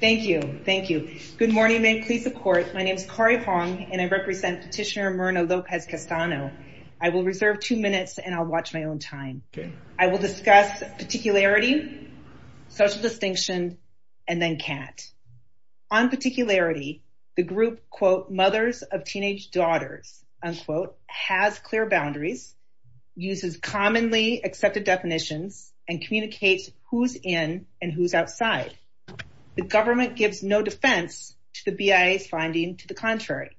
Thank you. Thank you. Good morning. May it please the court. My name is Corrie Hong, and I represent petitioner Myrna Lopez-Castano. I will reserve two minutes and I'll watch my own time. I will discuss particularity, social distinction, and then CAT. On particularity, the group, quote, mothers of teenage daughters, unquote, has clear boundaries, uses commonly accepted definitions, and communicates who's in and who's outside. The government gives no defense to the BIA's finding to the contrary.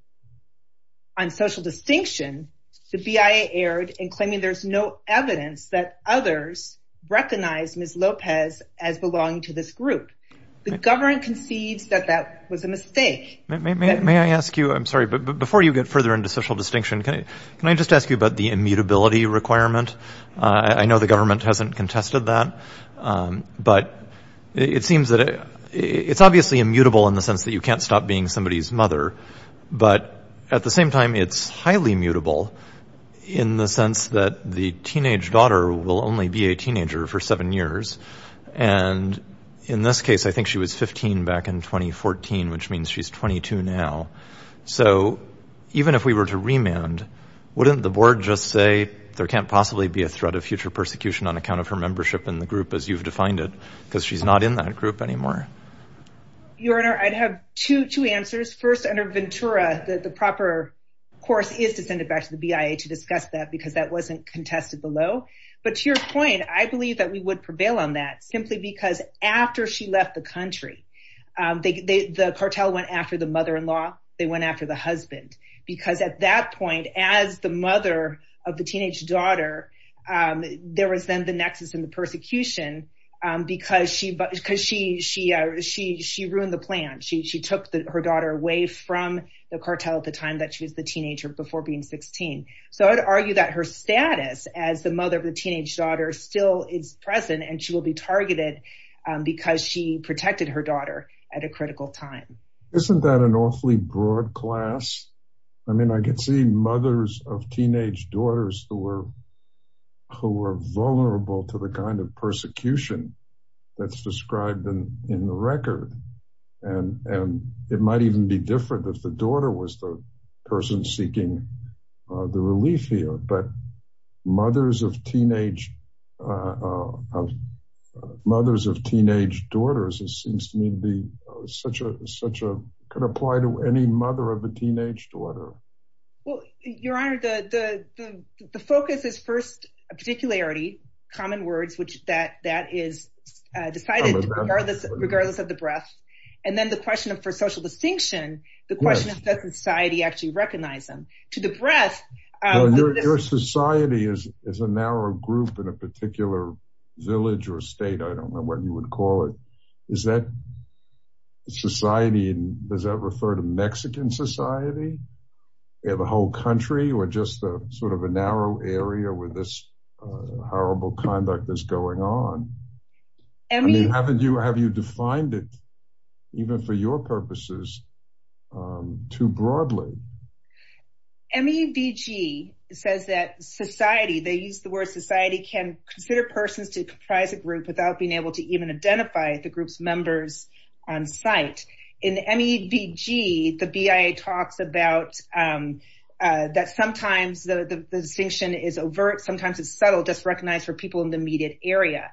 On social distinction, the BIA erred in claiming there's no evidence that others recognize Ms. Lopez as belonging to this group. The government concedes that that was a mistake. Jay Famiglietti May I ask you, I'm sorry, but before you get further into social distinction, can I just ask you about the immutability requirement? I know the government hasn't contested that, but it seems that it's obviously immutable in the sense that you can't stop being somebody's mother. But at the same time, it's highly mutable in the sense that the teenage daughter will only be a teenager for seven years. And in this case, I think she was 15 back in 2014, which means she's 22 now. So even if we were to remand, wouldn't the board just say there can't possibly be a threat of future persecution on account of her membership in the group as you've defined it? Because she's not in that group anymore. Dr. Anneke Vandenbroek Your Honor, I'd have two answers. First, under Ventura, the proper course is to send it back to the BIA to discuss that because that wasn't contested below. But to your point, I believe that we would prevail on that simply because after she left the country, the cartel went after the mother-in-law, they went after the husband. Because at that point, as the mother of the teenage daughter, there was then the nexus and the persecution because she ruined the plan. She took her daughter away from the cartel at the time that she was the teenager before being 16. So I'd argue that her status as the mother of the teenage daughter still is present, and she will be targeted because she protected her daughter at a critical time. Isn't that an awfully broad class? I mean, I could see mothers of teenage daughters who were vulnerable to the kind of persecution that's described in the record. And it might even be different if the daughter was the person seeking the relief here. But mothers of teenage daughters, it seems to me, could apply to any mother of a teenage daughter. Well, Your Honor, the focus is first, particularity, common words, which that is decided regardless of the breadth. And then the question for social distinction, the question of does society actually recognize them. To the breadth- Your society is a narrow group in a particular village or state, I don't know what you would call it. Does that refer to Mexican society, the whole country, or just sort of a narrow area where this horrible conduct is going on? Have you defined it, even for your purposes, too broadly? MEVG says that society, they use the word society, can consider persons to comprise a group without being able to even identify the group's members on site. In the MEVG, the BIA talks about that sometimes the distinction is overt, sometimes it's subtle, just recognized for people in the immediate area.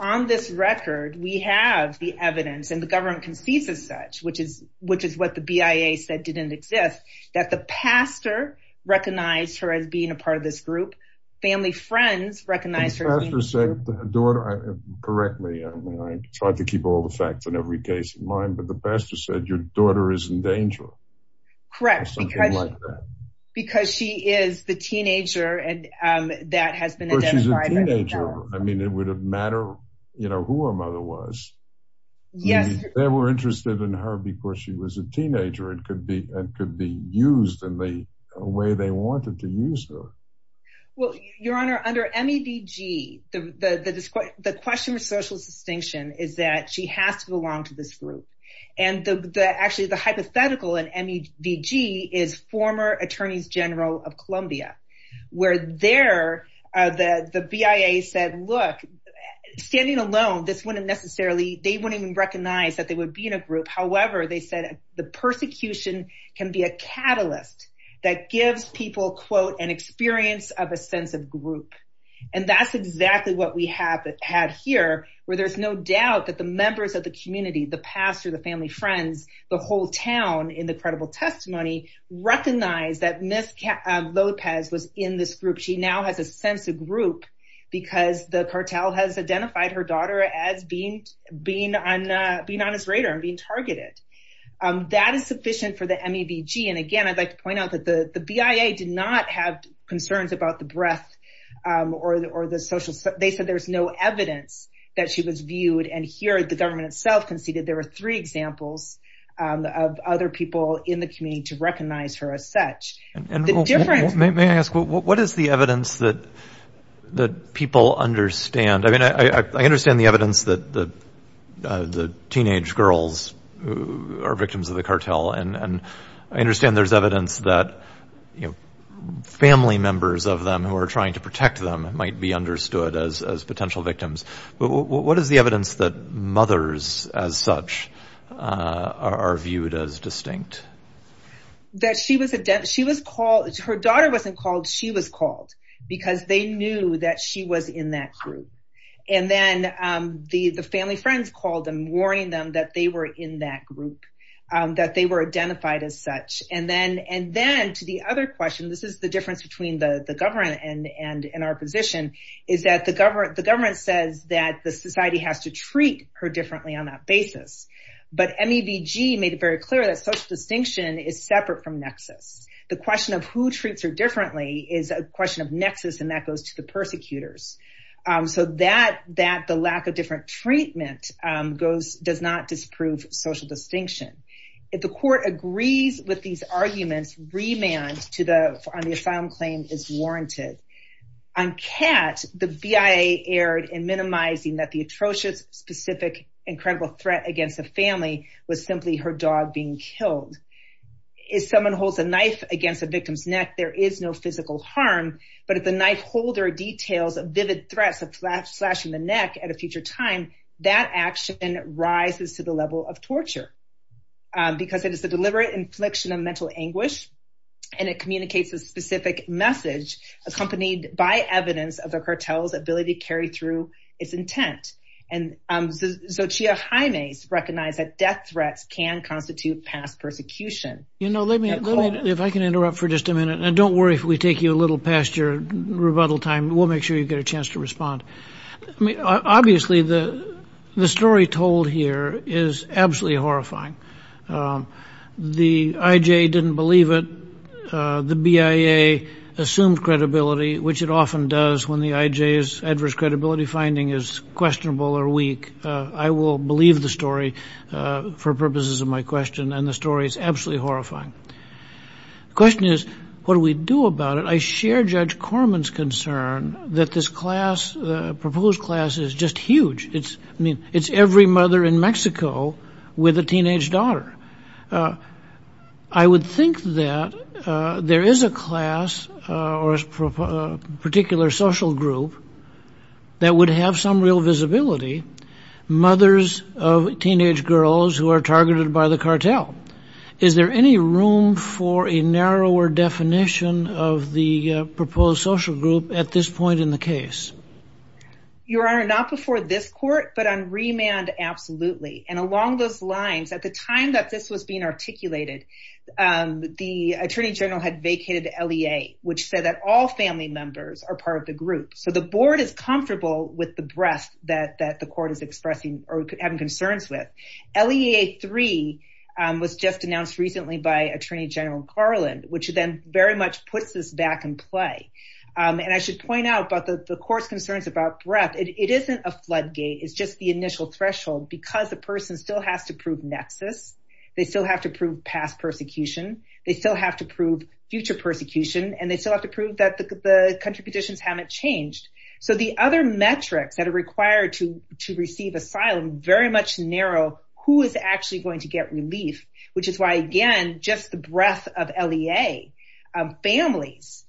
On this record, we have the evidence and the government concedes as such, which is what the BIA said didn't exist, that the pastor recognized her as being a part of this group. Family friends recognized her as being a part of this group. Correct me, I try to keep all the facts in every case in mind, but the pastor said your daughter is in danger. Correct. Because she is the teenager and that has been identified. She's a teenager. I mean, it would have mattered who her mother was. Yes. They were interested in her because she was a teenager and could be used in the way they wanted to use her. Well, Your Honor, under MEVG, the question of social distinction is that she has to belong to this group. And actually, the hypothetical in MEVG is former Attorneys General of Colombia, where there, the BIA said, look, standing alone, this wouldn't necessarily, they wouldn't even recognize that they would be in a group. However, they said the persecution can be a catalyst that gives people, quote, an experience of a sense of group. And that's exactly what we have had here, where there's no doubt that the members of the community, the pastor, the family friends, the whole town in the credible testimony, recognized that Ms. Lopez was in this group. She now has a sense of group because the cartel has identified her daughter as being on his radar and being targeted. That is sufficient for the MEVG. And again, I'd like to point out that the BIA did not have concerns about the breadth or the social, they said there's no evidence that she was viewed. And here, the government itself conceded there were three examples of other people in the community to recognize her as such. And the difference- The teenage girls are victims of the cartel. And I understand there's evidence that, you know, family members of them who are trying to protect them might be understood as potential victims. But what is the evidence that mothers as such are viewed as distinct? That she was a, she was called, her daughter wasn't called, she was called because they knew that she was in that group. And then the family friends called them, warning them that they were in that group, that they were identified as such. And then to the other question, this is the difference between the government and our position, is that the government says that the society has to treat her differently on that basis. But MEVG made it very clear that social distinction is separate from nexus. The question of who treats her differently is a question of nexus, and that goes to the persecutors. So that the lack of different treatment goes, does not disprove social distinction. If the court agrees with these arguments, remand on the asylum claim is warranted. On Kat, the BIA erred in minimizing that the atrocious, specific, incredible threat against a family was simply her dog being killed. If someone holds a knife against a victim's neck, there is no physical harm. But if the knife holder details of vivid threats of slashing the neck at a future time, that action rises to the level of torture. Because it is a deliberate infliction of mental anguish, and it communicates a specific message accompanied by evidence of the cartel's ability to carry through its intent. And Xochitl Jaime recognized that death threats can constitute past persecution. You know, let me, if I can interrupt for just a minute, and don't worry if we take you a little past your rebuttal time, we'll make sure you get a chance to respond. I mean, obviously, the story told here is absolutely horrifying. The IJ didn't believe it. The BIA assumed credibility, which it often does when the IJ's adverse credibility finding is questionable or weak. I will believe the story for purposes of my question, and the story is absolutely horrifying. The question is, what do we do about it? I share Judge Corman's concern that this class, proposed class, is just huge. It's, I mean, it's every mother in Mexico with a teenage daughter. I would think that there is a class or a particular social group that would have some real visibility, mothers of teenage girls who are targeted by the cartel. Is there any room for a narrower definition of the proposed social group at this point in the case? Your Honor, not before this court, but on remand, absolutely. And along those lines, at the time that this was being articulated, the Attorney General had vacated the LEA, which said that all family members are part of the group. So the board is comfortable with the breadth that the court is expressing or having concerns with. LEA 3 was just announced recently by Attorney General Garland, which then very much puts this back in play. And I should point out about the court's concerns about breadth. It isn't a floodgate. It's just the initial threshold because the person still has to prove nexus. They still have to prove past persecution. They still have to prove future persecution, and they still have to prove that the country conditions haven't changed. So the other metrics that are required to receive asylum very much narrow who is actually going to get relief, which is why, again, just the breadth of LEA families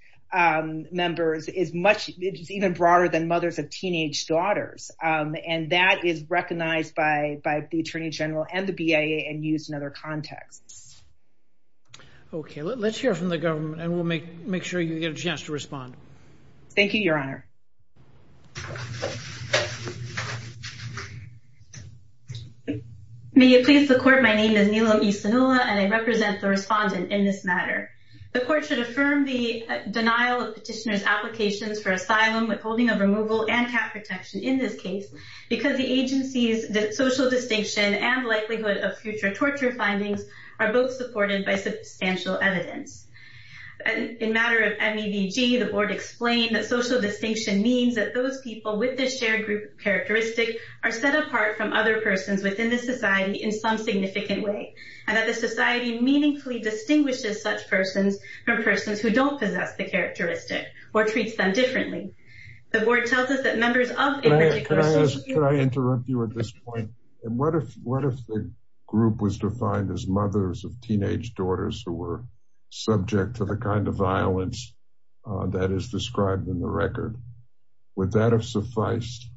members is much even broader than mothers of teenage daughters. And that is recognized by the Attorney General and the BIA and used in other contexts. Okay, let's hear from the government, and we'll make sure you get a chance to respond. Thank you, Your Honor. May it please the court. My name is Nilam Isinula, and I represent the respondent in this matter. The court should affirm the denial of petitioner's applications for asylum with holding of removal and cap protection in this case because the agency's social distinction and likelihood of future torture findings are both supported by substantial evidence. In matter of MEVG, the board explained that social distinction means that those people with this shared group characteristic are set apart from other persons within this society in some significant way, and that the society meaningfully distinguishes such persons from persons who don't possess the characteristic or treats them differently. The board tells us that members of... Can I interrupt you at this point? What if the group was defined as mothers of teenage daughters who were subject to the kind of violence that is described in the record? Would that have sufficed?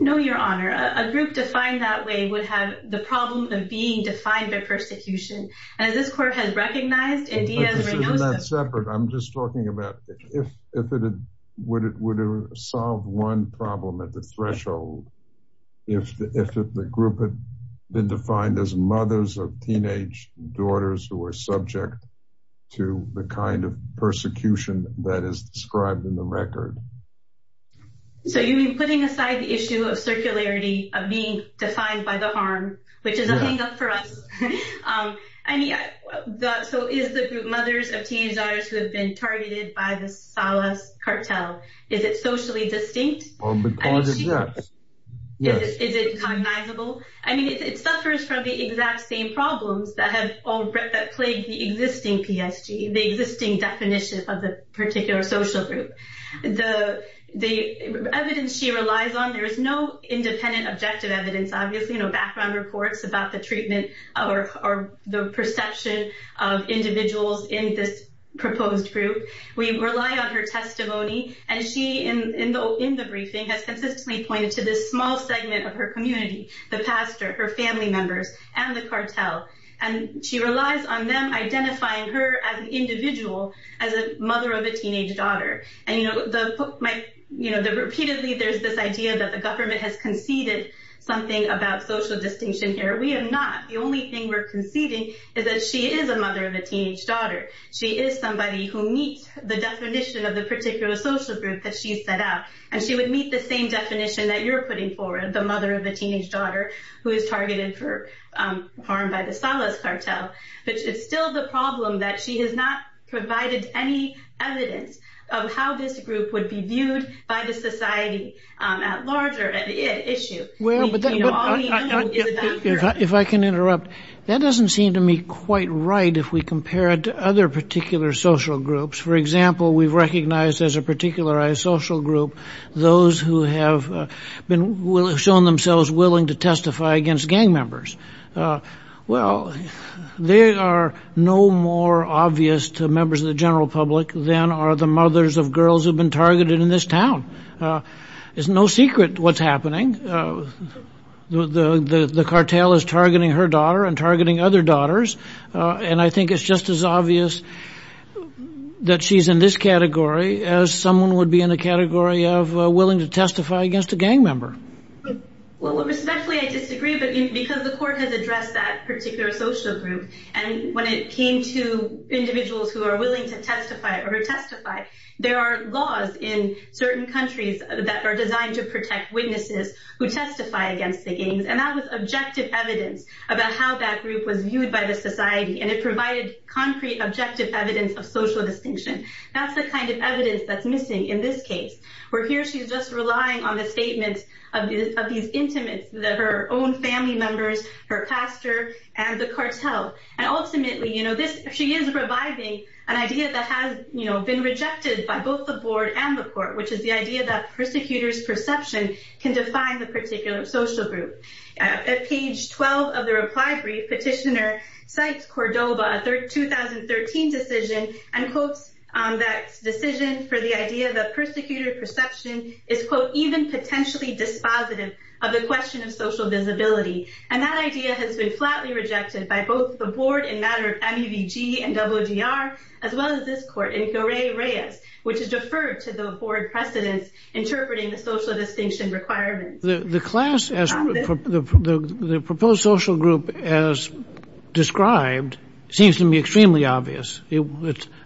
No, Your Honor. A group defined that way would have the problem of being defined by persecution. And as this court has recognized... But this isn't that separate. I'm just talking about if it would have solved one problem at threshold if the group had been defined as mothers of teenage daughters who were subject to the kind of persecution that is described in the record. So you mean putting aside the issue of circularity of being defined by the harm, which is a hang-up for us. So is the group mothers of teenage daughters who have been Is it cognizable? I mean, it suffers from the exact same problems that have all plagued the existing PSG, the existing definition of the particular social group. The evidence she relies on, there is no independent objective evidence, obviously, no background reports about the treatment or the perception of individuals in this to this small segment of her community, the pastor, her family members, and the cartel. And she relies on them identifying her as an individual, as a mother of a teenage daughter. And repeatedly, there's this idea that the government has conceded something about social distinction here. We have not. The only thing we're conceding is that she is a mother of a teenage daughter. She is somebody who meets the definition of the you're putting forward, the mother of a teenage daughter who is targeted for harm by the Salas cartel. But it's still the problem that she has not provided any evidence of how this group would be viewed by the society at large or at issue. If I can interrupt, that doesn't seem to me quite right if we compare it to other particular social groups. For example, we've recognized as a particularized social group, those who have been shown themselves willing to testify against gang members. Well, they are no more obvious to members of the general public than are the mothers of girls who have been targeted in this town. It's no secret what's happening. The cartel is targeting her daughter and targeting other daughters. And I think it's just as obvious that she's in this of willing to testify against a gang member. Well, respectfully, I disagree. But because the court has addressed that particular social group and when it came to individuals who are willing to testify or testify, there are laws in certain countries that are designed to protect witnesses who testify against the gangs. And that was objective evidence about how that group was viewed by the society. And it provided concrete, objective evidence of social distinction. That's the kind of evidence that's missing in this case, where here she's just relying on the statements of these intimates, her own family members, her pastor, and the cartel. And ultimately, she is reviving an idea that has been rejected by both the board and the court, which is the idea that persecutors' perception can define the particular social group. At page 12 of the reply petitioner cites Cordoba, a 2013 decision, and quotes that decision for the idea that persecutor perception is, quote, even potentially dispositive of the question of social visibility. And that idea has been flatly rejected by both the board in matter of MEVG and OGR, as well as this court which has deferred to the board precedents interpreting the social distinction requirements. The class, the proposed social group as described, seems to me extremely obvious.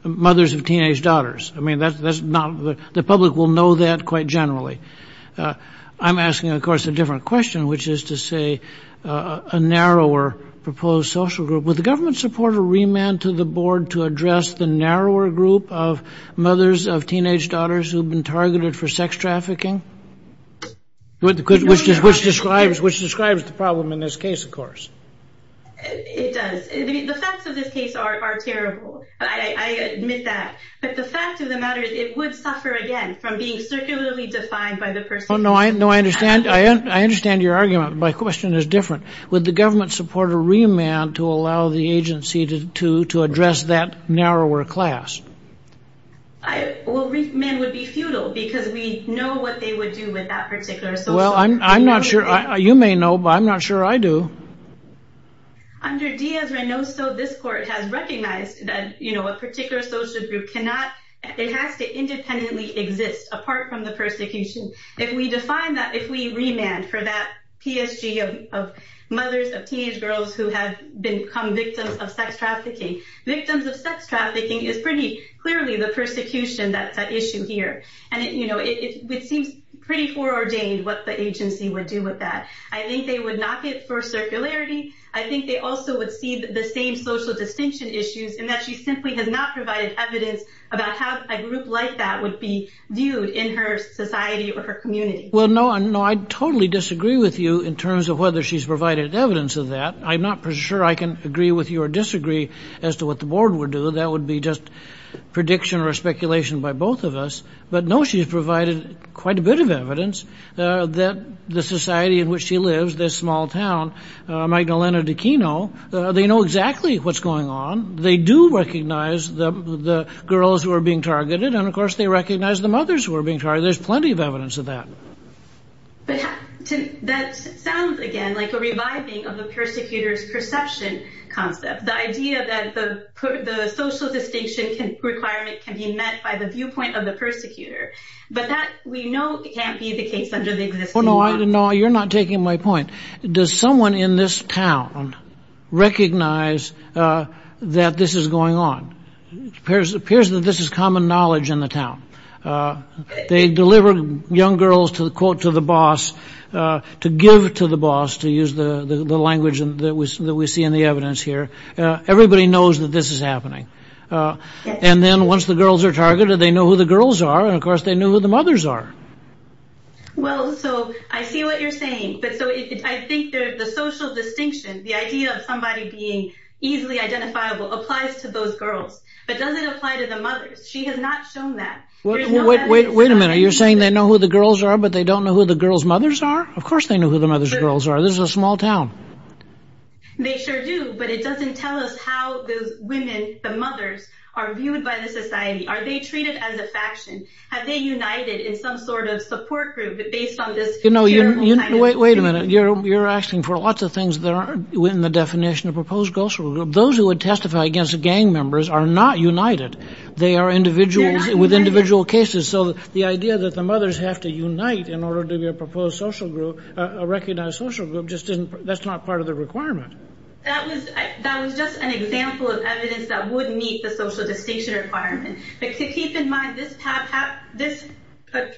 Mothers of teenage daughters. I mean, that's not, the public will know that quite generally. I'm asking, of course, a different question, which is to say, a narrower proposed social group. Would the government support a remand to the board to address the narrower group of which describes the problem in this case, of course? It does. The facts of this case are terrible. I admit that. But the fact of the matter is, it would suffer again from being circularly defined by the person. Oh, no, I understand. I understand your argument. My question is different. Would the government support a remand to allow the agency to address that narrower class? Well, remand would be futile because we know what they would do with that particular social group. You may know, but I'm not sure I do. Under Diaz-Reynoso, this court has recognized that a particular social group cannot, it has to independently exist apart from the persecution. If we define that, if we remand for that PSG of mothers of teenage girls who have become victims of sex trafficking, victims of sex trafficking is pretty clearly the persecution that's at issue here. It seems pretty foreordained what the agency would do with that. I think they would not get for circularity. I think they also would see the same social distinction issues in that she simply has not provided evidence about how a group like that would be viewed in her society or her community. Well, no, I totally disagree with you in terms of whether she's provided evidence of that. I'm not sure I can agree with you or disagree as to what the board would do. That would be just prediction or speculation by both of us. But no, she's provided quite a bit of evidence that the society in which she lives, this small town, Magdalena de Kino, they know exactly what's going on. They do recognize the girls who are being targeted. And of course, they recognize the mothers who are being targeted. There's plenty of evidence of that. But that sounds again like a of the persecutors perception concept, the idea that the social distinction requirement can be met by the viewpoint of the persecutor. But that we know can't be the case under the existing law. No, you're not taking my point. Does someone in this town recognize that this is going on? It appears that this is common knowledge in the town. They deliver young girls to the quote to to give to the boss, to use the language that we see in the evidence here. Everybody knows that this is happening. And then once the girls are targeted, they know who the girls are. And of course, they know who the mothers are. Well, so I see what you're saying. But so I think the social distinction, the idea of somebody being easily identifiable applies to those girls, but doesn't apply to the mothers. She has not shown that. Wait a minute. You're saying they know who the girls are, but they don't know who the girls mothers are. Of course, they know who the mothers girls are. This is a small town. They sure do. But it doesn't tell us how those women, the mothers are viewed by the society. Are they treated as a faction? Have they united in some sort of support group based on this? You know, wait, wait a minute. You're you're asking for lots of things that are within the definition of proposed goals. Those who would testify against gang members are not united. They are individuals with individual cases. So the idea that the mothers have to unite in order to be a proposed social group, a recognized social group, just didn't. That's not part of the requirement. That was that was just an example of evidence that would meet the social distinction requirement. But keep in mind this path. This,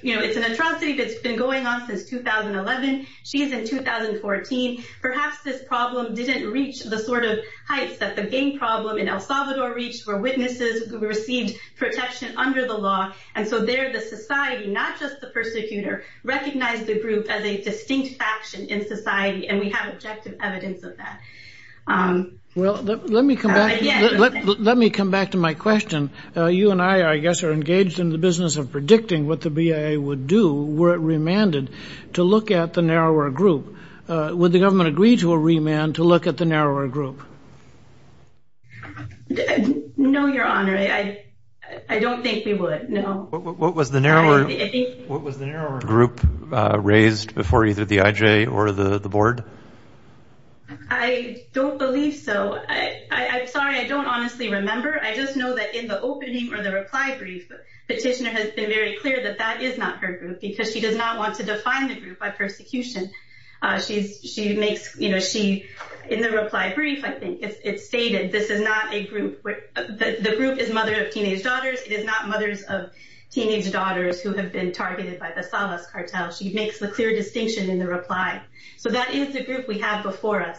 you know, it's an atrocity that's been going on since 2011. She's in 2014. Perhaps this problem didn't reach the sort of heights that the gang problem in El Salvador reached for witnesses who received protection under the law. And so they're the society, not just the persecutor, recognize the group as a distinct faction in society. And we have objective evidence of that. Well, let me come back. Let me come back to my question. You and I, I guess, are engaged in the business of predicting what the BIA would do were remanded to look at the narrower group. Would the government agree to a remand to look at the narrower group? No, Your Honor. I don't think we would. No. What was the narrower group raised before either the IJ or the board? I don't believe so. I'm sorry. I don't honestly remember. I just know that in the opening or the reply brief, the petitioner has been very clear that that is not her group because she does not want to define the group by persecution. She makes, you know, she in the reply brief, I think it's stated this is not a group. The group is mother of teenage daughters. It is not mothers of teenage daughters who have been targeted by the Salas cartel. She makes the clear distinction in the reply. So that is the group we have before us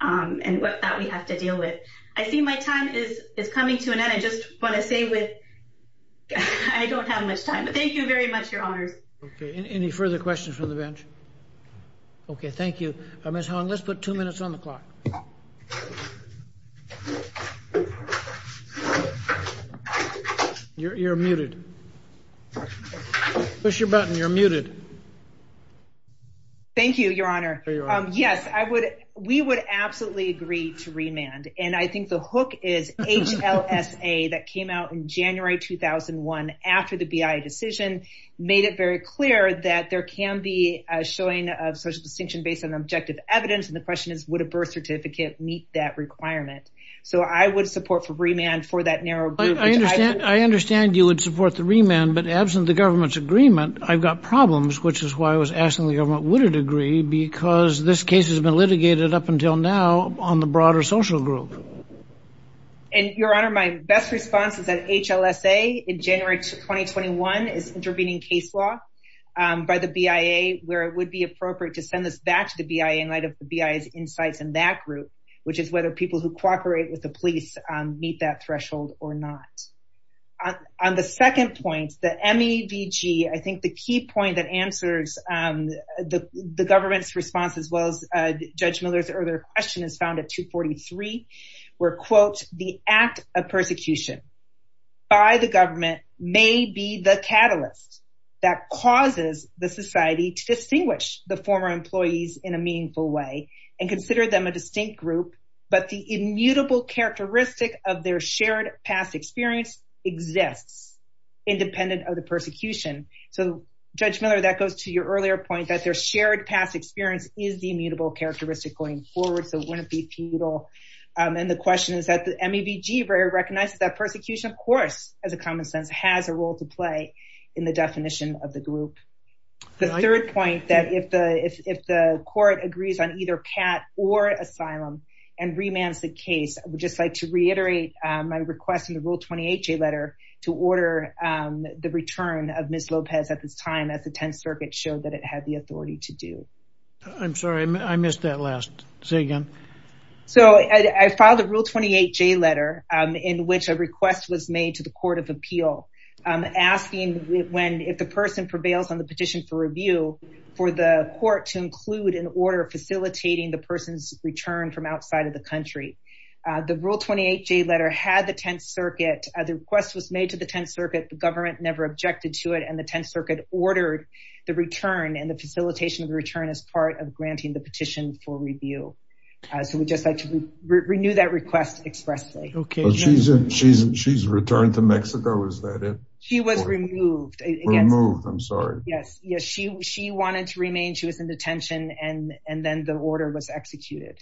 and that we have to deal with. I see my time is coming to an end. I just want to say with I don't have much time, but thank you very much, Your Honors. Okay. Any further questions from the bench? Okay. Thank you. Ms. Hong, let's put two minutes on the clock. You're muted. Push your button. You're muted. Thank you, Your Honor. Yes, I would. We would absolutely agree to remand. And I think the hook is HLSA that came out in January 2001 after the BIA decision made it very clear that there can be showing of social distinction based on objective evidence. And the question is, would a birth certificate meet that requirement? So I would support for remand for that narrow. I understand you would support the remand, but absent the government's agreement, I've got problems, which is why I was asking the government, would it agree? Because this case has been litigated up until now on the broader social group. And Your Honor, my best response is that HLSA in January 2021 is intervening case law by the BIA where it would be appropriate to send this back to the BIA in light of the BIA's insights in that group, which is whether people who cooperate with the police meet that threshold or not. On the second point, the MEVG, I think the key point that answers the government's response as well as Judge Miller's earlier question is found at 243, where quote, the act of persecution by the government may be the catalyst that causes the society to distinguish the former employees in a meaningful way and consider them a distinct group, but the immutable characteristic of their shared past experience exists independent of the persecution. So Judge Miller, that goes to your earlier point that their shared past experience is the immutable characteristic going forward. So it wouldn't be futile. And the question is that the MEVG recognizes that persecution, of course, as a common sense, has a role to play in the definition of the group. The third point that if the court agrees on either CAT or asylum and remands the case, I would just like to reiterate my request in the Rule 28J letter to order the return of Ms. Lopez at this time as the 10th Circuit showed that it had the authority to do. I'm sorry, I missed that last. Say again. So I filed a Rule 28J letter in which a request was made to the Court of Appeal, asking if the person prevails on the petition for review, for the court to include an order facilitating the person's return from outside of the country. The Rule 28J letter had the 10th Circuit, the request was made to the 10th Circuit, the government never objected to it, and the 10th Circuit ordered the return and the facilitation of the return as part of granting the petition for review. So we'd just like to renew that request expressly. Okay. She's returned to Mexico, is that it? She was removed. Removed, I'm sorry. Yes. She wanted to remain, she was in detention, and then the order was executed.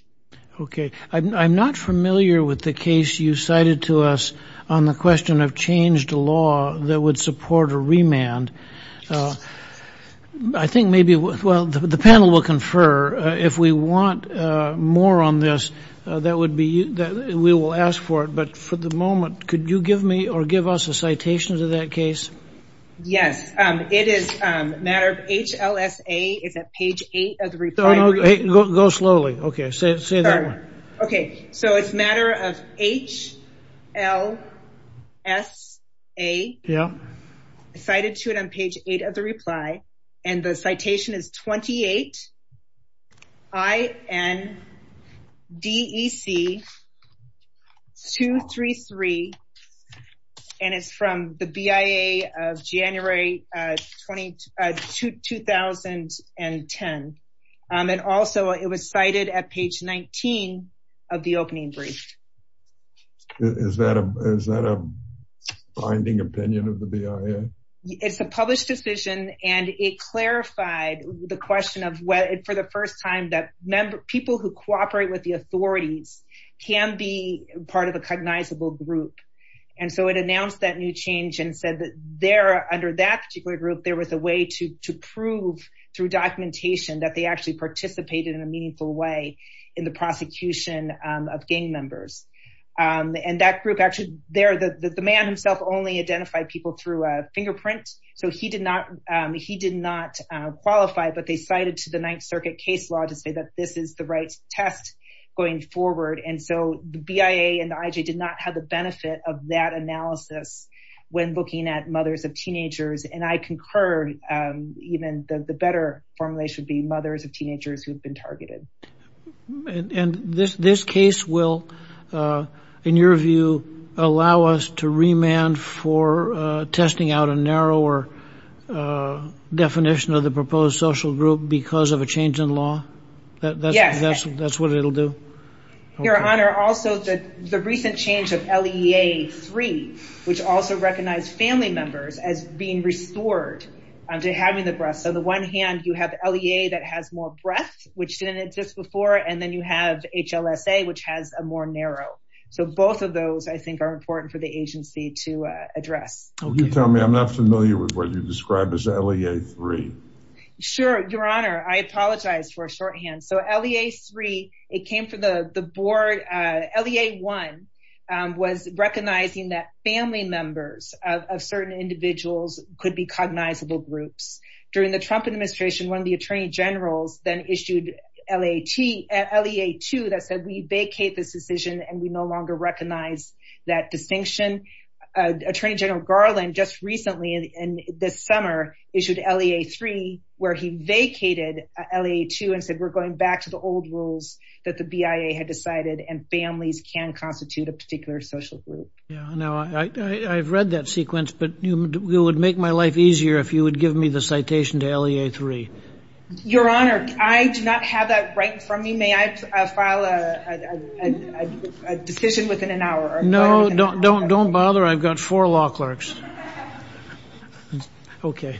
Okay. I'm not familiar with the case you cited to us on the question of changed law that would The panel will confer. If we want more on this, we will ask for it. But for the moment, could you give me or give us a citation to that case? Yes. It is a matter of HLSA, it's at page 8 of the reply. No, no, go slowly. Okay, say that one. Okay. So it's a matter of HLSA. Yeah. Cited to it on page 8 of the reply, and the citation is 28 INDEC 233, and it's from the BIA of January 2010. And also, it was cited at page 19 of the opening brief. Okay. Is that a binding opinion of the BIA? It's a published decision, and it clarified the question of whether, for the first time, that people who cooperate with the authorities can be part of a cognizable group. And so it announced that new change and said that there, under that particular group, there was a way to prove through documentation that they actually participated in a meaningful way in the And that group actually, there, the man himself only identified people through a fingerprint. So he did not qualify, but they cited to the Ninth Circuit case law to say that this is the right test going forward. And so the BIA and the IJ did not have the benefit of that analysis when looking at mothers of teenagers. And I concur, even the better formulation would be mothers of teenagers who've been targeted. And this case will, in your view, allow us to remand for testing out a narrower definition of the proposed social group because of a change in law? That's what it'll do? Your Honor, also the recent change of LEA 3, which also recognized family members as being restored to having the breast. So on the one hand, you have LEA that has more breath, which didn't exist before. And then you have HLSA, which has a more narrow. So both of those, I think, are important for the agency to address. Can you tell me, I'm not familiar with what you described as LEA 3. Sure, Your Honor, I apologize for a shorthand. So LEA 3, it came from the board. LEA 1 was recognizing that family members of certain individuals could be cognizable groups. During the Trump administration, one of the attorney generals then issued LEA 2 that said, we vacate this decision, and we no longer recognize that distinction. Attorney General Garland just recently, this summer, issued LEA 3, where he vacated LEA 2 and said, we're going back to the old rules that the BIA had decided, and families can constitute a particular social group. Yeah, no, I've read that sequence, but it would make my life easier if you would give me the LEA 3. Your Honor, I do not have that right in front of me. May I file a decision within an hour? No, don't bother. I've got four law clerks. Okay.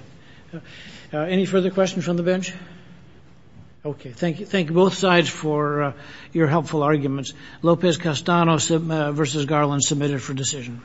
Any further questions from the bench? Okay, thank you. Thank you, both sides, for your helpful arguments. Lopez-Castano v. Garland, submitted for decision.